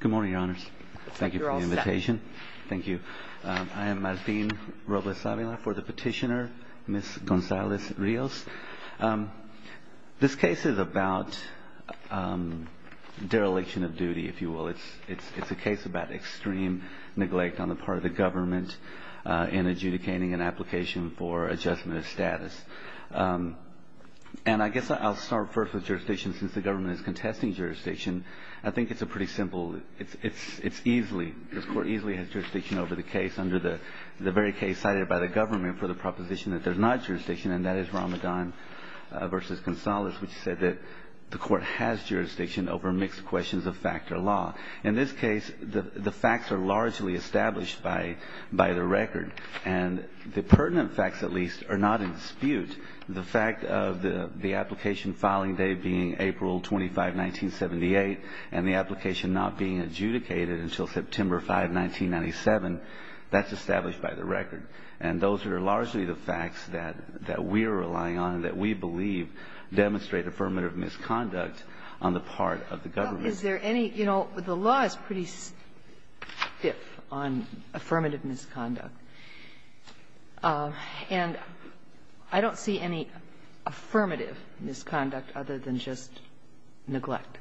Good morning, Your Honors. Thank you for the invitation. Thank you. I am Martin Robles-Avila for the petitioner, Ms. Gonzalez-Rios. This case is about dereliction of duty, if you will. It's a case about extreme neglect on the part of the government in adjudicating an application for adjustment of status. And I guess I'll start first with jurisdiction, since the government is contesting jurisdiction. I think it's pretty simple. It's easily, this Court easily has jurisdiction over the case under the very case cited by the government for the proposition that there's not jurisdiction, and that is Ramadan v. Gonzalez, which said that the Court has jurisdiction over mixed questions of fact or law. In this case, the facts are largely established by the record. And the pertinent facts, at least, are not in dispute. The fact of the application filing day being April 25, 1978, and the application not being adjudicated until September 5, 1997, that's established by the record. And those are largely the facts that we're relying on and that we believe demonstrate affirmative misconduct on the part of the government. Is there any you know, the law is pretty stiff on affirmative misconduct. And I don't see any affirmative misconduct other than just neglect.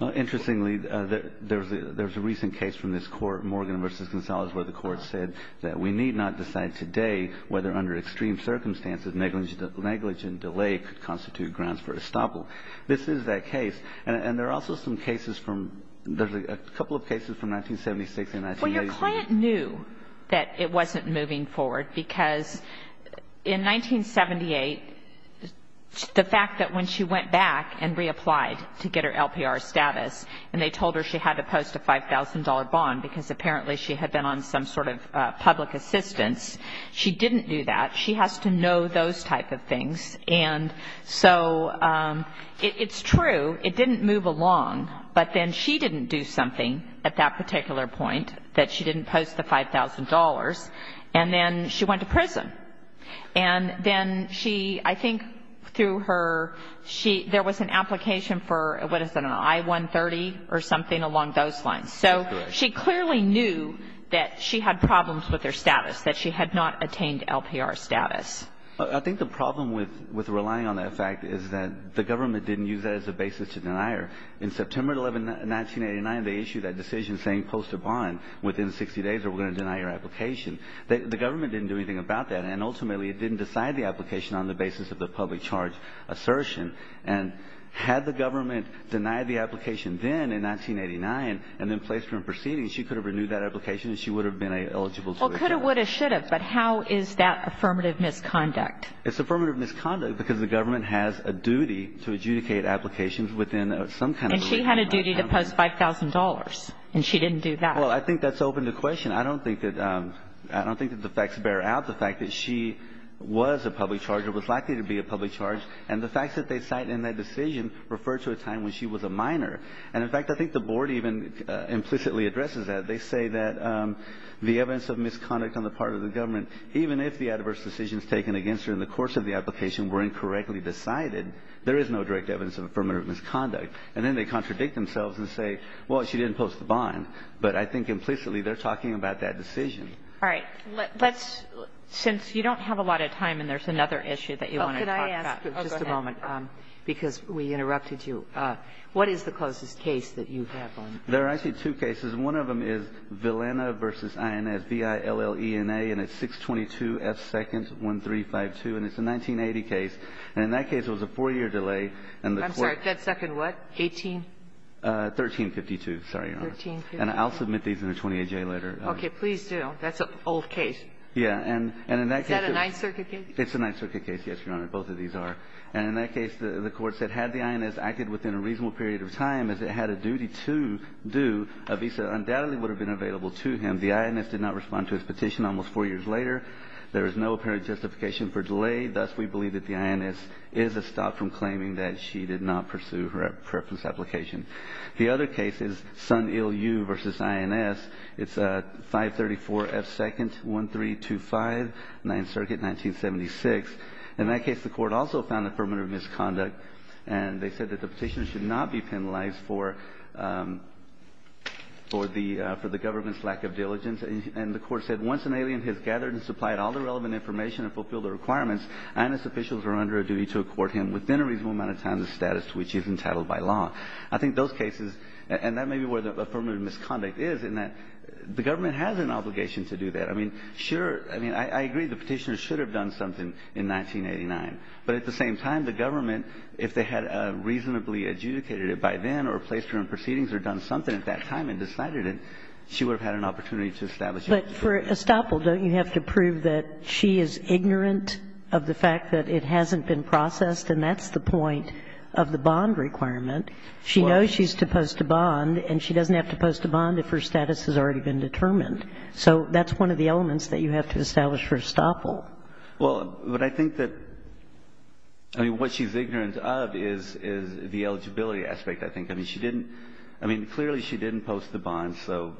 Interestingly, there's a recent case from this Court, Morgan v. Gonzalez, where the Court said that we need not decide today whether, under extreme circumstances, negligent delay could constitute grounds for estoppel. This is that case. And there are also some cases from, there's a couple of cases from 1976 and 1980. Well, your client knew that it wasn't moving forward because in 1978, the fact that when she went back and reapplied to get her LPR status and they told her she had to post a $5,000 bond because apparently she had been on some sort of public assistance, she didn't do that. She has to know those type of things. And so it's true. It didn't move along. But then she didn't do something at that particular point that she didn't post the $5,000. And then she went to prison. And then she, I think through her, she, there was an application for, what is it, an I-130 or something along those lines. That's correct. So she clearly knew that she had problems with her status, that she had not attained LPR status. I think the problem with relying on that fact is that the government didn't use that as a basis to deny her. In September 11, 1989, they issued that decision saying post a bond within 60 days or we're going to deny your application. The government didn't do anything about that. And ultimately, it didn't decide the application on the basis of the public charge assertion. And had the government denied the application then in 1989 and then placed her in proceedings, she could have renewed that application and she would have been eligible. Well, could have, would have, should have. But how is that affirmative misconduct? It's affirmative misconduct because the government has a duty to adjudicate applications within some kind of legal framework. And she had a duty to post $5,000. And she didn't do that. Well, I think that's open to question. I don't think that, I don't think that the facts bear out the fact that she was a public charge or was likely to be a public charge. And the facts that they cite in that decision refer to a time when she was a minor. And, in fact, I think the Board even implicitly addresses that. They say that the evidence of misconduct on the part of the government, even if the adverse decisions taken against her in the course of the application were incorrectly decided, there is no direct evidence of affirmative misconduct. And then they contradict themselves and say, well, she didn't post the bond. But I think implicitly they're talking about that decision. All right. Let's, since you don't have a lot of time and there's another issue that you want to talk about, just a moment, because we interrupted you. What is the closest case that you have on this? There are actually two cases. One of them is Villena v. INS, V-I-L-L-E-N-A, and it's 622F2nd1352, and it's a 1980 case. And in that case, it was a four-year delay. And the Court ---- I'm sorry. That second what? 18? 1352. Sorry, Your Honor. 1352. And I'll submit these in a 28-J letter. Okay. Please do. That's an old case. Yeah. And in that case ---- Is that a Ninth Circuit case? It's a Ninth Circuit case, yes, Your Honor. Both of these are. And in that case, the Court said had the INS acted within a reasonable period of time as it had a duty to do, a visa undoubtedly would have been available to him. The INS did not respond to his petition almost four years later. There is no apparent justification for delay. Thus, we believe that the INS is a stop from claiming that she did not pursue her preference application. The other case is Son-Il-Yu v. INS. It's 534F2nd1325, Ninth Circuit, 1976. In that case, the Court also found affirmative misconduct, and they said that the petitioner should not be penalized for the government's lack of diligence. And the Court said, Once an alien has gathered and supplied all the relevant information and fulfilled the requirements, INS officials are under a duty to accord him within a reasonable amount of time the status to which he is entitled by law. I think those cases, and that may be where the affirmative misconduct is, in that the government has an obligation to do that. I mean, sure. I mean, I agree the petitioner should have done something in 1989. But at the same time, the government, if they had reasonably adjudicated it by then or placed her on proceedings or done something at that time and decided it, she would have had an opportunity to establish it. But for estoppel, don't you have to prove that she is ignorant of the fact that it hasn't been processed? And that's the point of the bond requirement. She knows she's supposed to bond, and she doesn't have to post a bond if her status has already been determined. So that's one of the elements that you have to establish for estoppel. Well, but I think that, I mean, what she's ignorant of is the eligibility aspect, I think. I mean, she didn't, I mean, clearly she didn't post the bond, so,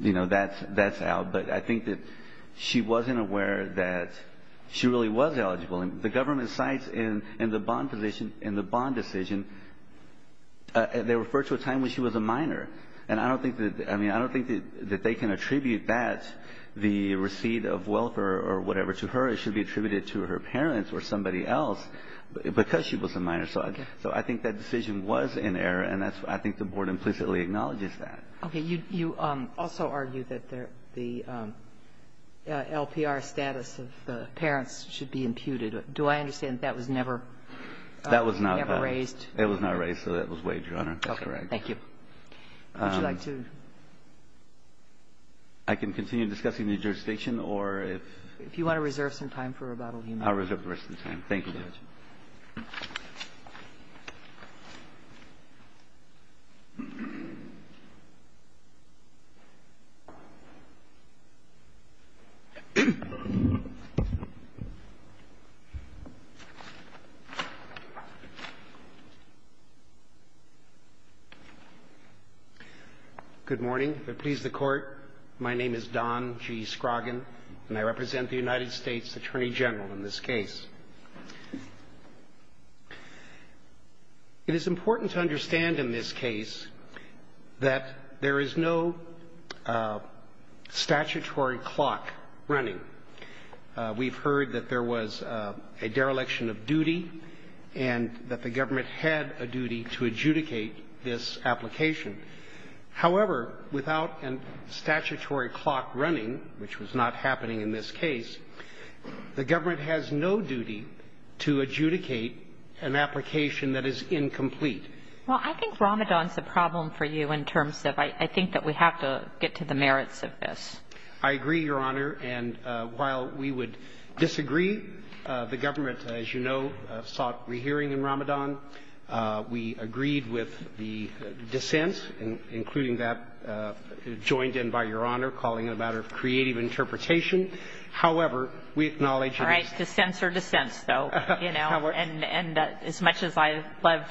you know, that's out. But I think that she wasn't aware that she really was eligible. And the government cites in the bond position, in the bond decision, they refer to a time when she was a minor. And I don't think that, I mean, I don't think that they can attribute that, the number to her, it should be attributed to her parents or somebody else because she was a minor. So I think that decision was in error, and I think the Board implicitly acknowledges that. Okay. You also argue that the LPR status of the parents should be imputed. Do I understand that that was never raised? It was not raised, so that was wagered on her. That's correct. Would you like to? I can continue discussing the jurisdiction, or if? If you want to reserve some time for rebuttal, you may. I'll reserve the rest of the time. Thank you, Judge. Good morning. If it please the Court, my name is Don G. Scroggin, and I represent the United States Department of Justice. It is important to understand in this case that there is no statutory clock running. We've heard that there was a dereliction of duty and that the government had a duty to adjudicate this application. However, without a statutory clock running, which was not happening in this case, the government had a duty to adjudicate an application that is incomplete. Well, I think Ramadan is a problem for you in terms of I think that we have to get to the merits of this. I agree, Your Honor. And while we would disagree, the government, as you know, sought rehearing in Ramadan. We agreed with the dissent, including that joined in by Your Honor, calling it a matter of creative interpretation. However, we acknowledge that it's not. It's either dissents or dissents, though, you know. And as much as I loved,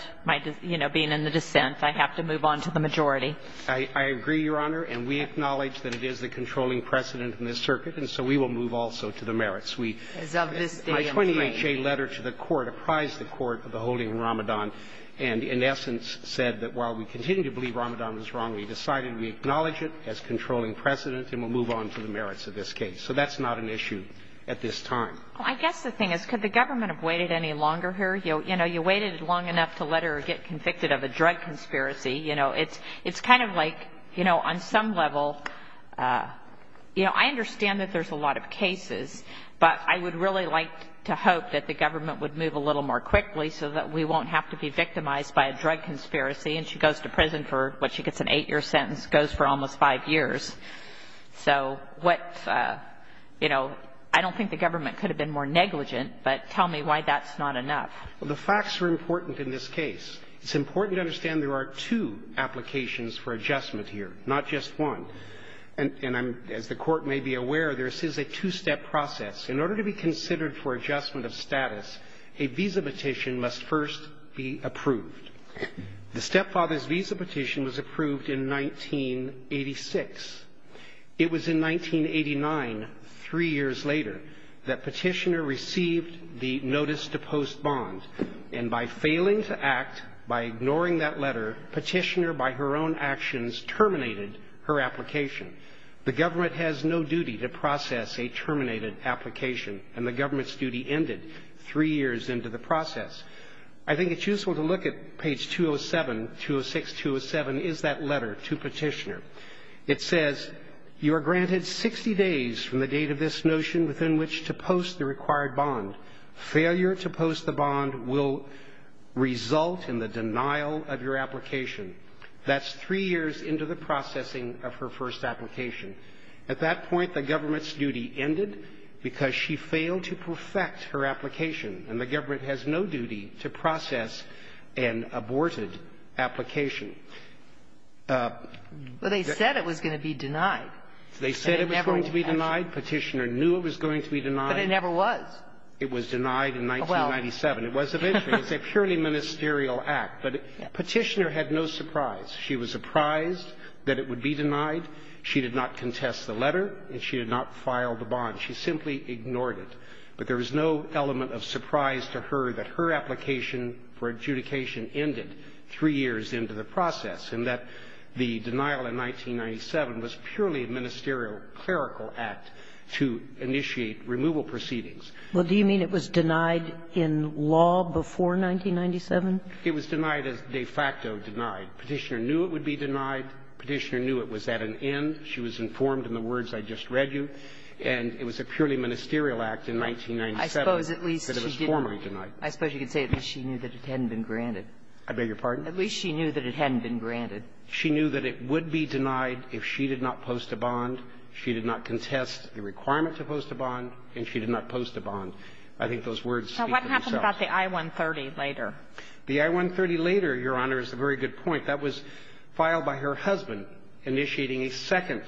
you know, being in the dissent, I have to move on to the majority. I agree, Your Honor. And we acknowledge that it is the controlling precedent in this circuit, and so we will move also to the merits. As of this day, I'm afraid. My 28-J letter to the Court apprised the Court of the holding of Ramadan and, in essence, said that while we continue to believe Ramadan was wrong, we decided we acknowledge it as controlling precedent and we'll move on to the merits of this case. So that's not an issue at this time. Well, I guess the thing is, could the government have waited any longer here? You know, you waited long enough to let her get convicted of a drug conspiracy. You know, it's kind of like, you know, on some level, you know, I understand that there's a lot of cases, but I would really like to hope that the government would move a little more quickly so that we won't have to be victimized by a drug conspiracy. And she goes to prison for what she gets, an eight-year sentence, goes for almost five years. So what, you know, I don't think the government could have been more negligent, but tell me why that's not enough. Well, the facts are important in this case. It's important to understand there are two applications for adjustment here, not just one. And I'm, as the Court may be aware, there is a two-step process. In order to be considered for adjustment of status, a visa petition must first be approved. The stepfather's visa petition was approved in 1986. It was in 1989, three years later, that Petitioner received the notice to post bond. And by failing to act, by ignoring that letter, Petitioner, by her own actions, terminated her application. The government has no duty to process a terminated application, and the government's duty ended three years into the process. I think it's useful to look at page 207, 206, 207, is that letter to Petitioner. It says, you are granted 60 days from the date of this notion within which to post the required bond. Failure to post the bond will result in the denial of your application. That's three years into the processing of her first application. At that point, the government's duty ended because she failed to perfect her application, and the government has no duty to process an aborted application. But they said it was going to be denied. They said it was going to be denied. Petitioner knew it was going to be denied. But it never was. It was denied in 1997. It was eventually. It's a purely ministerial act. But Petitioner had no surprise. She was surprised that it would be denied. She did not contest the letter, and she did not file the bond. She simply ignored it. But there was no element of surprise to her that her application for adjudication ended three years into the process, and that the denial in 1997 was purely a ministerial, clerical act to initiate removal proceedings. Well, do you mean it was denied in law before 1997? It was denied as de facto denied. Petitioner knew it would be denied. Petitioner knew it was at an end. She was informed in the words I just read you. And it was a purely ministerial act in 1997 that it was formally denied. I suppose you could say at least she knew that it hadn't been granted. I beg your pardon? At least she knew that it hadn't been granted. She knew that it would be denied if she did not post a bond. She did not contest the requirement to post a bond, and she did not post a bond. I think those words speak for themselves. Now, what happened about the I-130 later? The I-130 later, Your Honor, is a very good point. That was filed by her husband initiating a second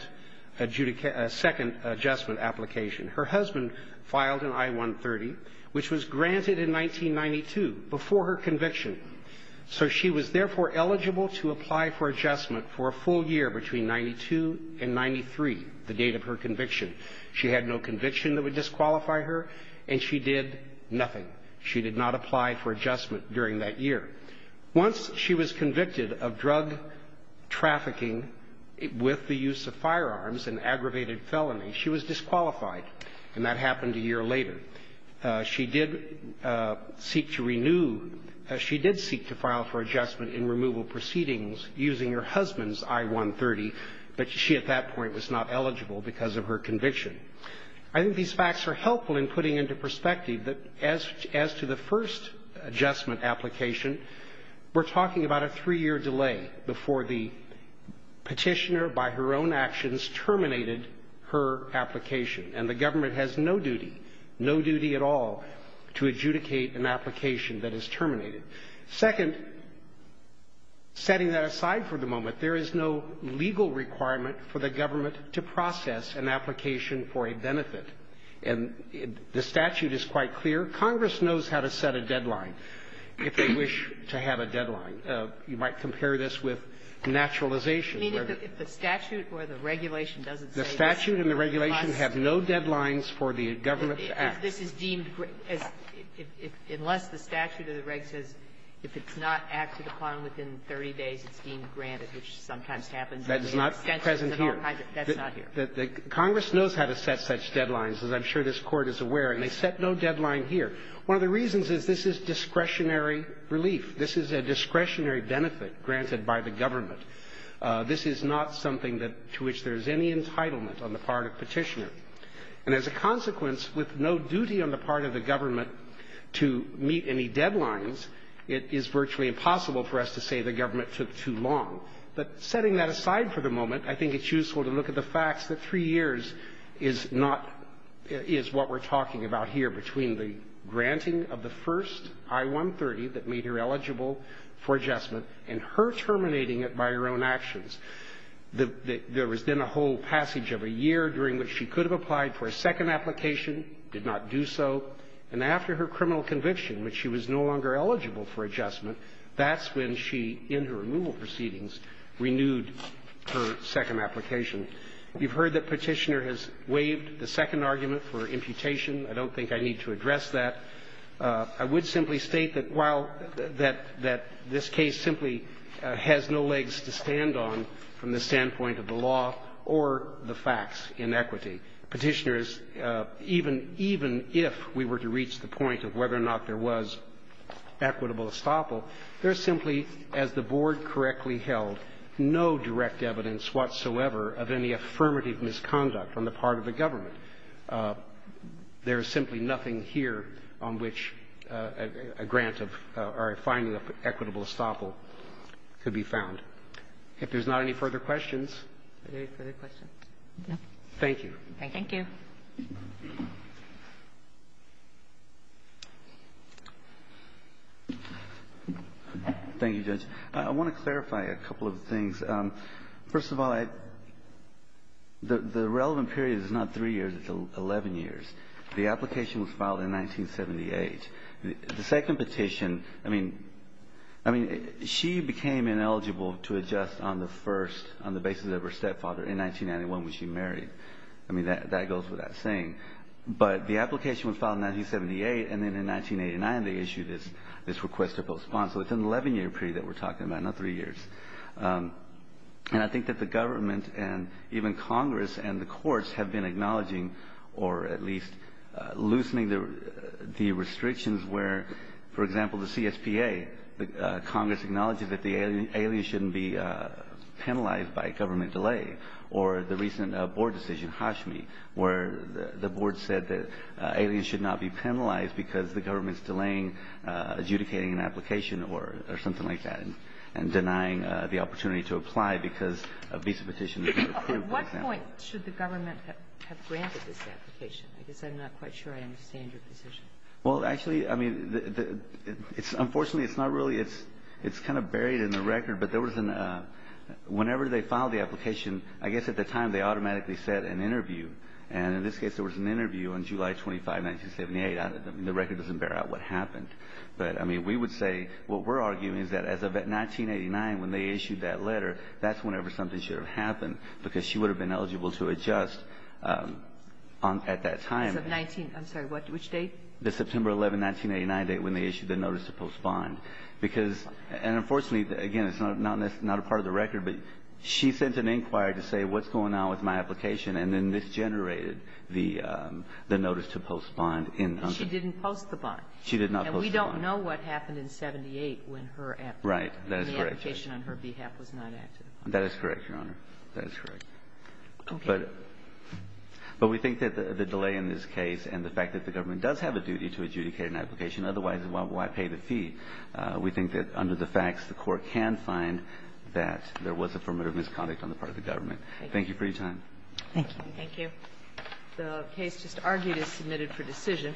adjustment application. Her husband filed an I-130, which was granted in 1992, before her conviction. So she was, therefore, eligible to apply for adjustment for a full year between 92 and 93, the date of her conviction. She had no conviction that would disqualify her, and she did nothing. She did not apply for adjustment during that year. Once she was convicted of drug trafficking with the use of firearms, an aggravated felony, she was disqualified, and that happened a year later. She did seek to renew or she did seek to file for adjustment in removal proceedings using her husband's I-130, but she at that point was not eligible because of her conviction. I think these facts are helpful in putting into perspective that as to the first adjustment application, we're talking about a three-year delay before the Petitioner by her own actions terminated her application, and the government has no duty, no duty at all to adjudicate an application that is terminated. Second, setting that aside for the moment, there is no legal requirement for the government to process an application for a benefit. And the statute is quite clear. Congress knows how to set a deadline, if they wish to have a deadline. You might compare this with naturalization, whether the statute or the regulation doesn't say this. The statute and the regulation have no deadlines for the government to act. If this is deemed as unless the statute or the reg says if it's not acted upon within 30 days, it's deemed granted, which sometimes happens. That is not present here. That's not here. Congress knows how to set such deadlines, as I'm sure this Court is aware. And they set no deadline here. One of the reasons is this is discretionary relief. This is a discretionary benefit granted by the government. This is not something that to which there is any entitlement on the part of Petitioner. And as a consequence, with no duty on the part of the government to meet any deadlines, it is virtually impossible for us to say the government took too long. But setting that aside for the moment, I think it's useful to look at the facts that three years is not – is what we're talking about here between the granting of the first I-130 that made her eligible for adjustment and her terminating it by her own actions. There was then a whole passage of a year during which she could have applied for a second application, did not do so, and after her criminal conviction, when she was no longer eligible for adjustment, that's when she, in her removal proceedings, renewed her second application. You've heard that Petitioner has waived the second argument for imputation. I don't think I need to address that. I would simply state that while – that this case simply has no legs to stand on from the standpoint of the law or the facts in equity, Petitioner is – even if we were to reach the point of whether or not there was equitable estoppel, there's simply, as the Board correctly held, no direct evidence whatsoever of any affirmative misconduct on the part of the government. There is simply nothing here on which a grant of – or a finding of equitable estoppel could be found. If there's not any further questions. Are there any further questions? No. Thank you. Thank you. Thank you, Judge. I want to clarify a couple of things. First of all, I – the relevant period is not 3 years, it's 11 years. The application was filed in 1978. The second petition, I mean – I mean, she became ineligible to adjust on the first – on the basis of her stepfather in 1991 when she married. I mean, that goes without saying. But the application was filed in 1978, and then in 1989 they issued this request to postpone. So it's an 11-year period that we're talking about, not 3 years. And I think that the government and even Congress and the courts have been acknowledging or at least loosening the restrictions where, for example, the CSPA, Congress acknowledges that the alien shouldn't be penalized by government delay, or the recent board decision, Hashmi, where the board said that aliens should not be penalized because the government's delaying adjudicating an application or something like that and denying the opportunity to apply because a visa petition was not approved, for example. At what point should the government have granted this application? I guess I'm not quite sure I understand your position. Well, actually, I mean, it's – unfortunately, it's not really – it's kind of buried in the record. But there was an – whenever they filed the application, I guess at the time they automatically set an interview. And in this case, there was an interview on July 25, 1978. I mean, the record doesn't bear out what happened. But, I mean, we would say what we're arguing is that as of 1989, when they issued that letter, that's whenever something should have happened, because she would have been eligible to adjust on – at that time. As of 19 – I'm sorry. What – which date? The September 11, 1989 date when they issued the notice to postpone. Because – and unfortunately, again, it's not a part of the record, but she sent an inquiry to say, what's going on with my application, and then misgenerated the notice to postpone in – But she didn't post the bond. She did not post the bond. And we don't know what happened in 1978 when her application – Right. That is correct. When the application on her behalf was not active. That is correct, Your Honor. That is correct. Okay. But we think that the delay in this case and the fact that the government does have a duty to adjudicate an application, otherwise, why pay the fee? We think that under the facts, the Court can find that there was affirmative misconduct on the part of the government. Thank you for your time. Thank you. Thank you. The case just argued is submitted for decision.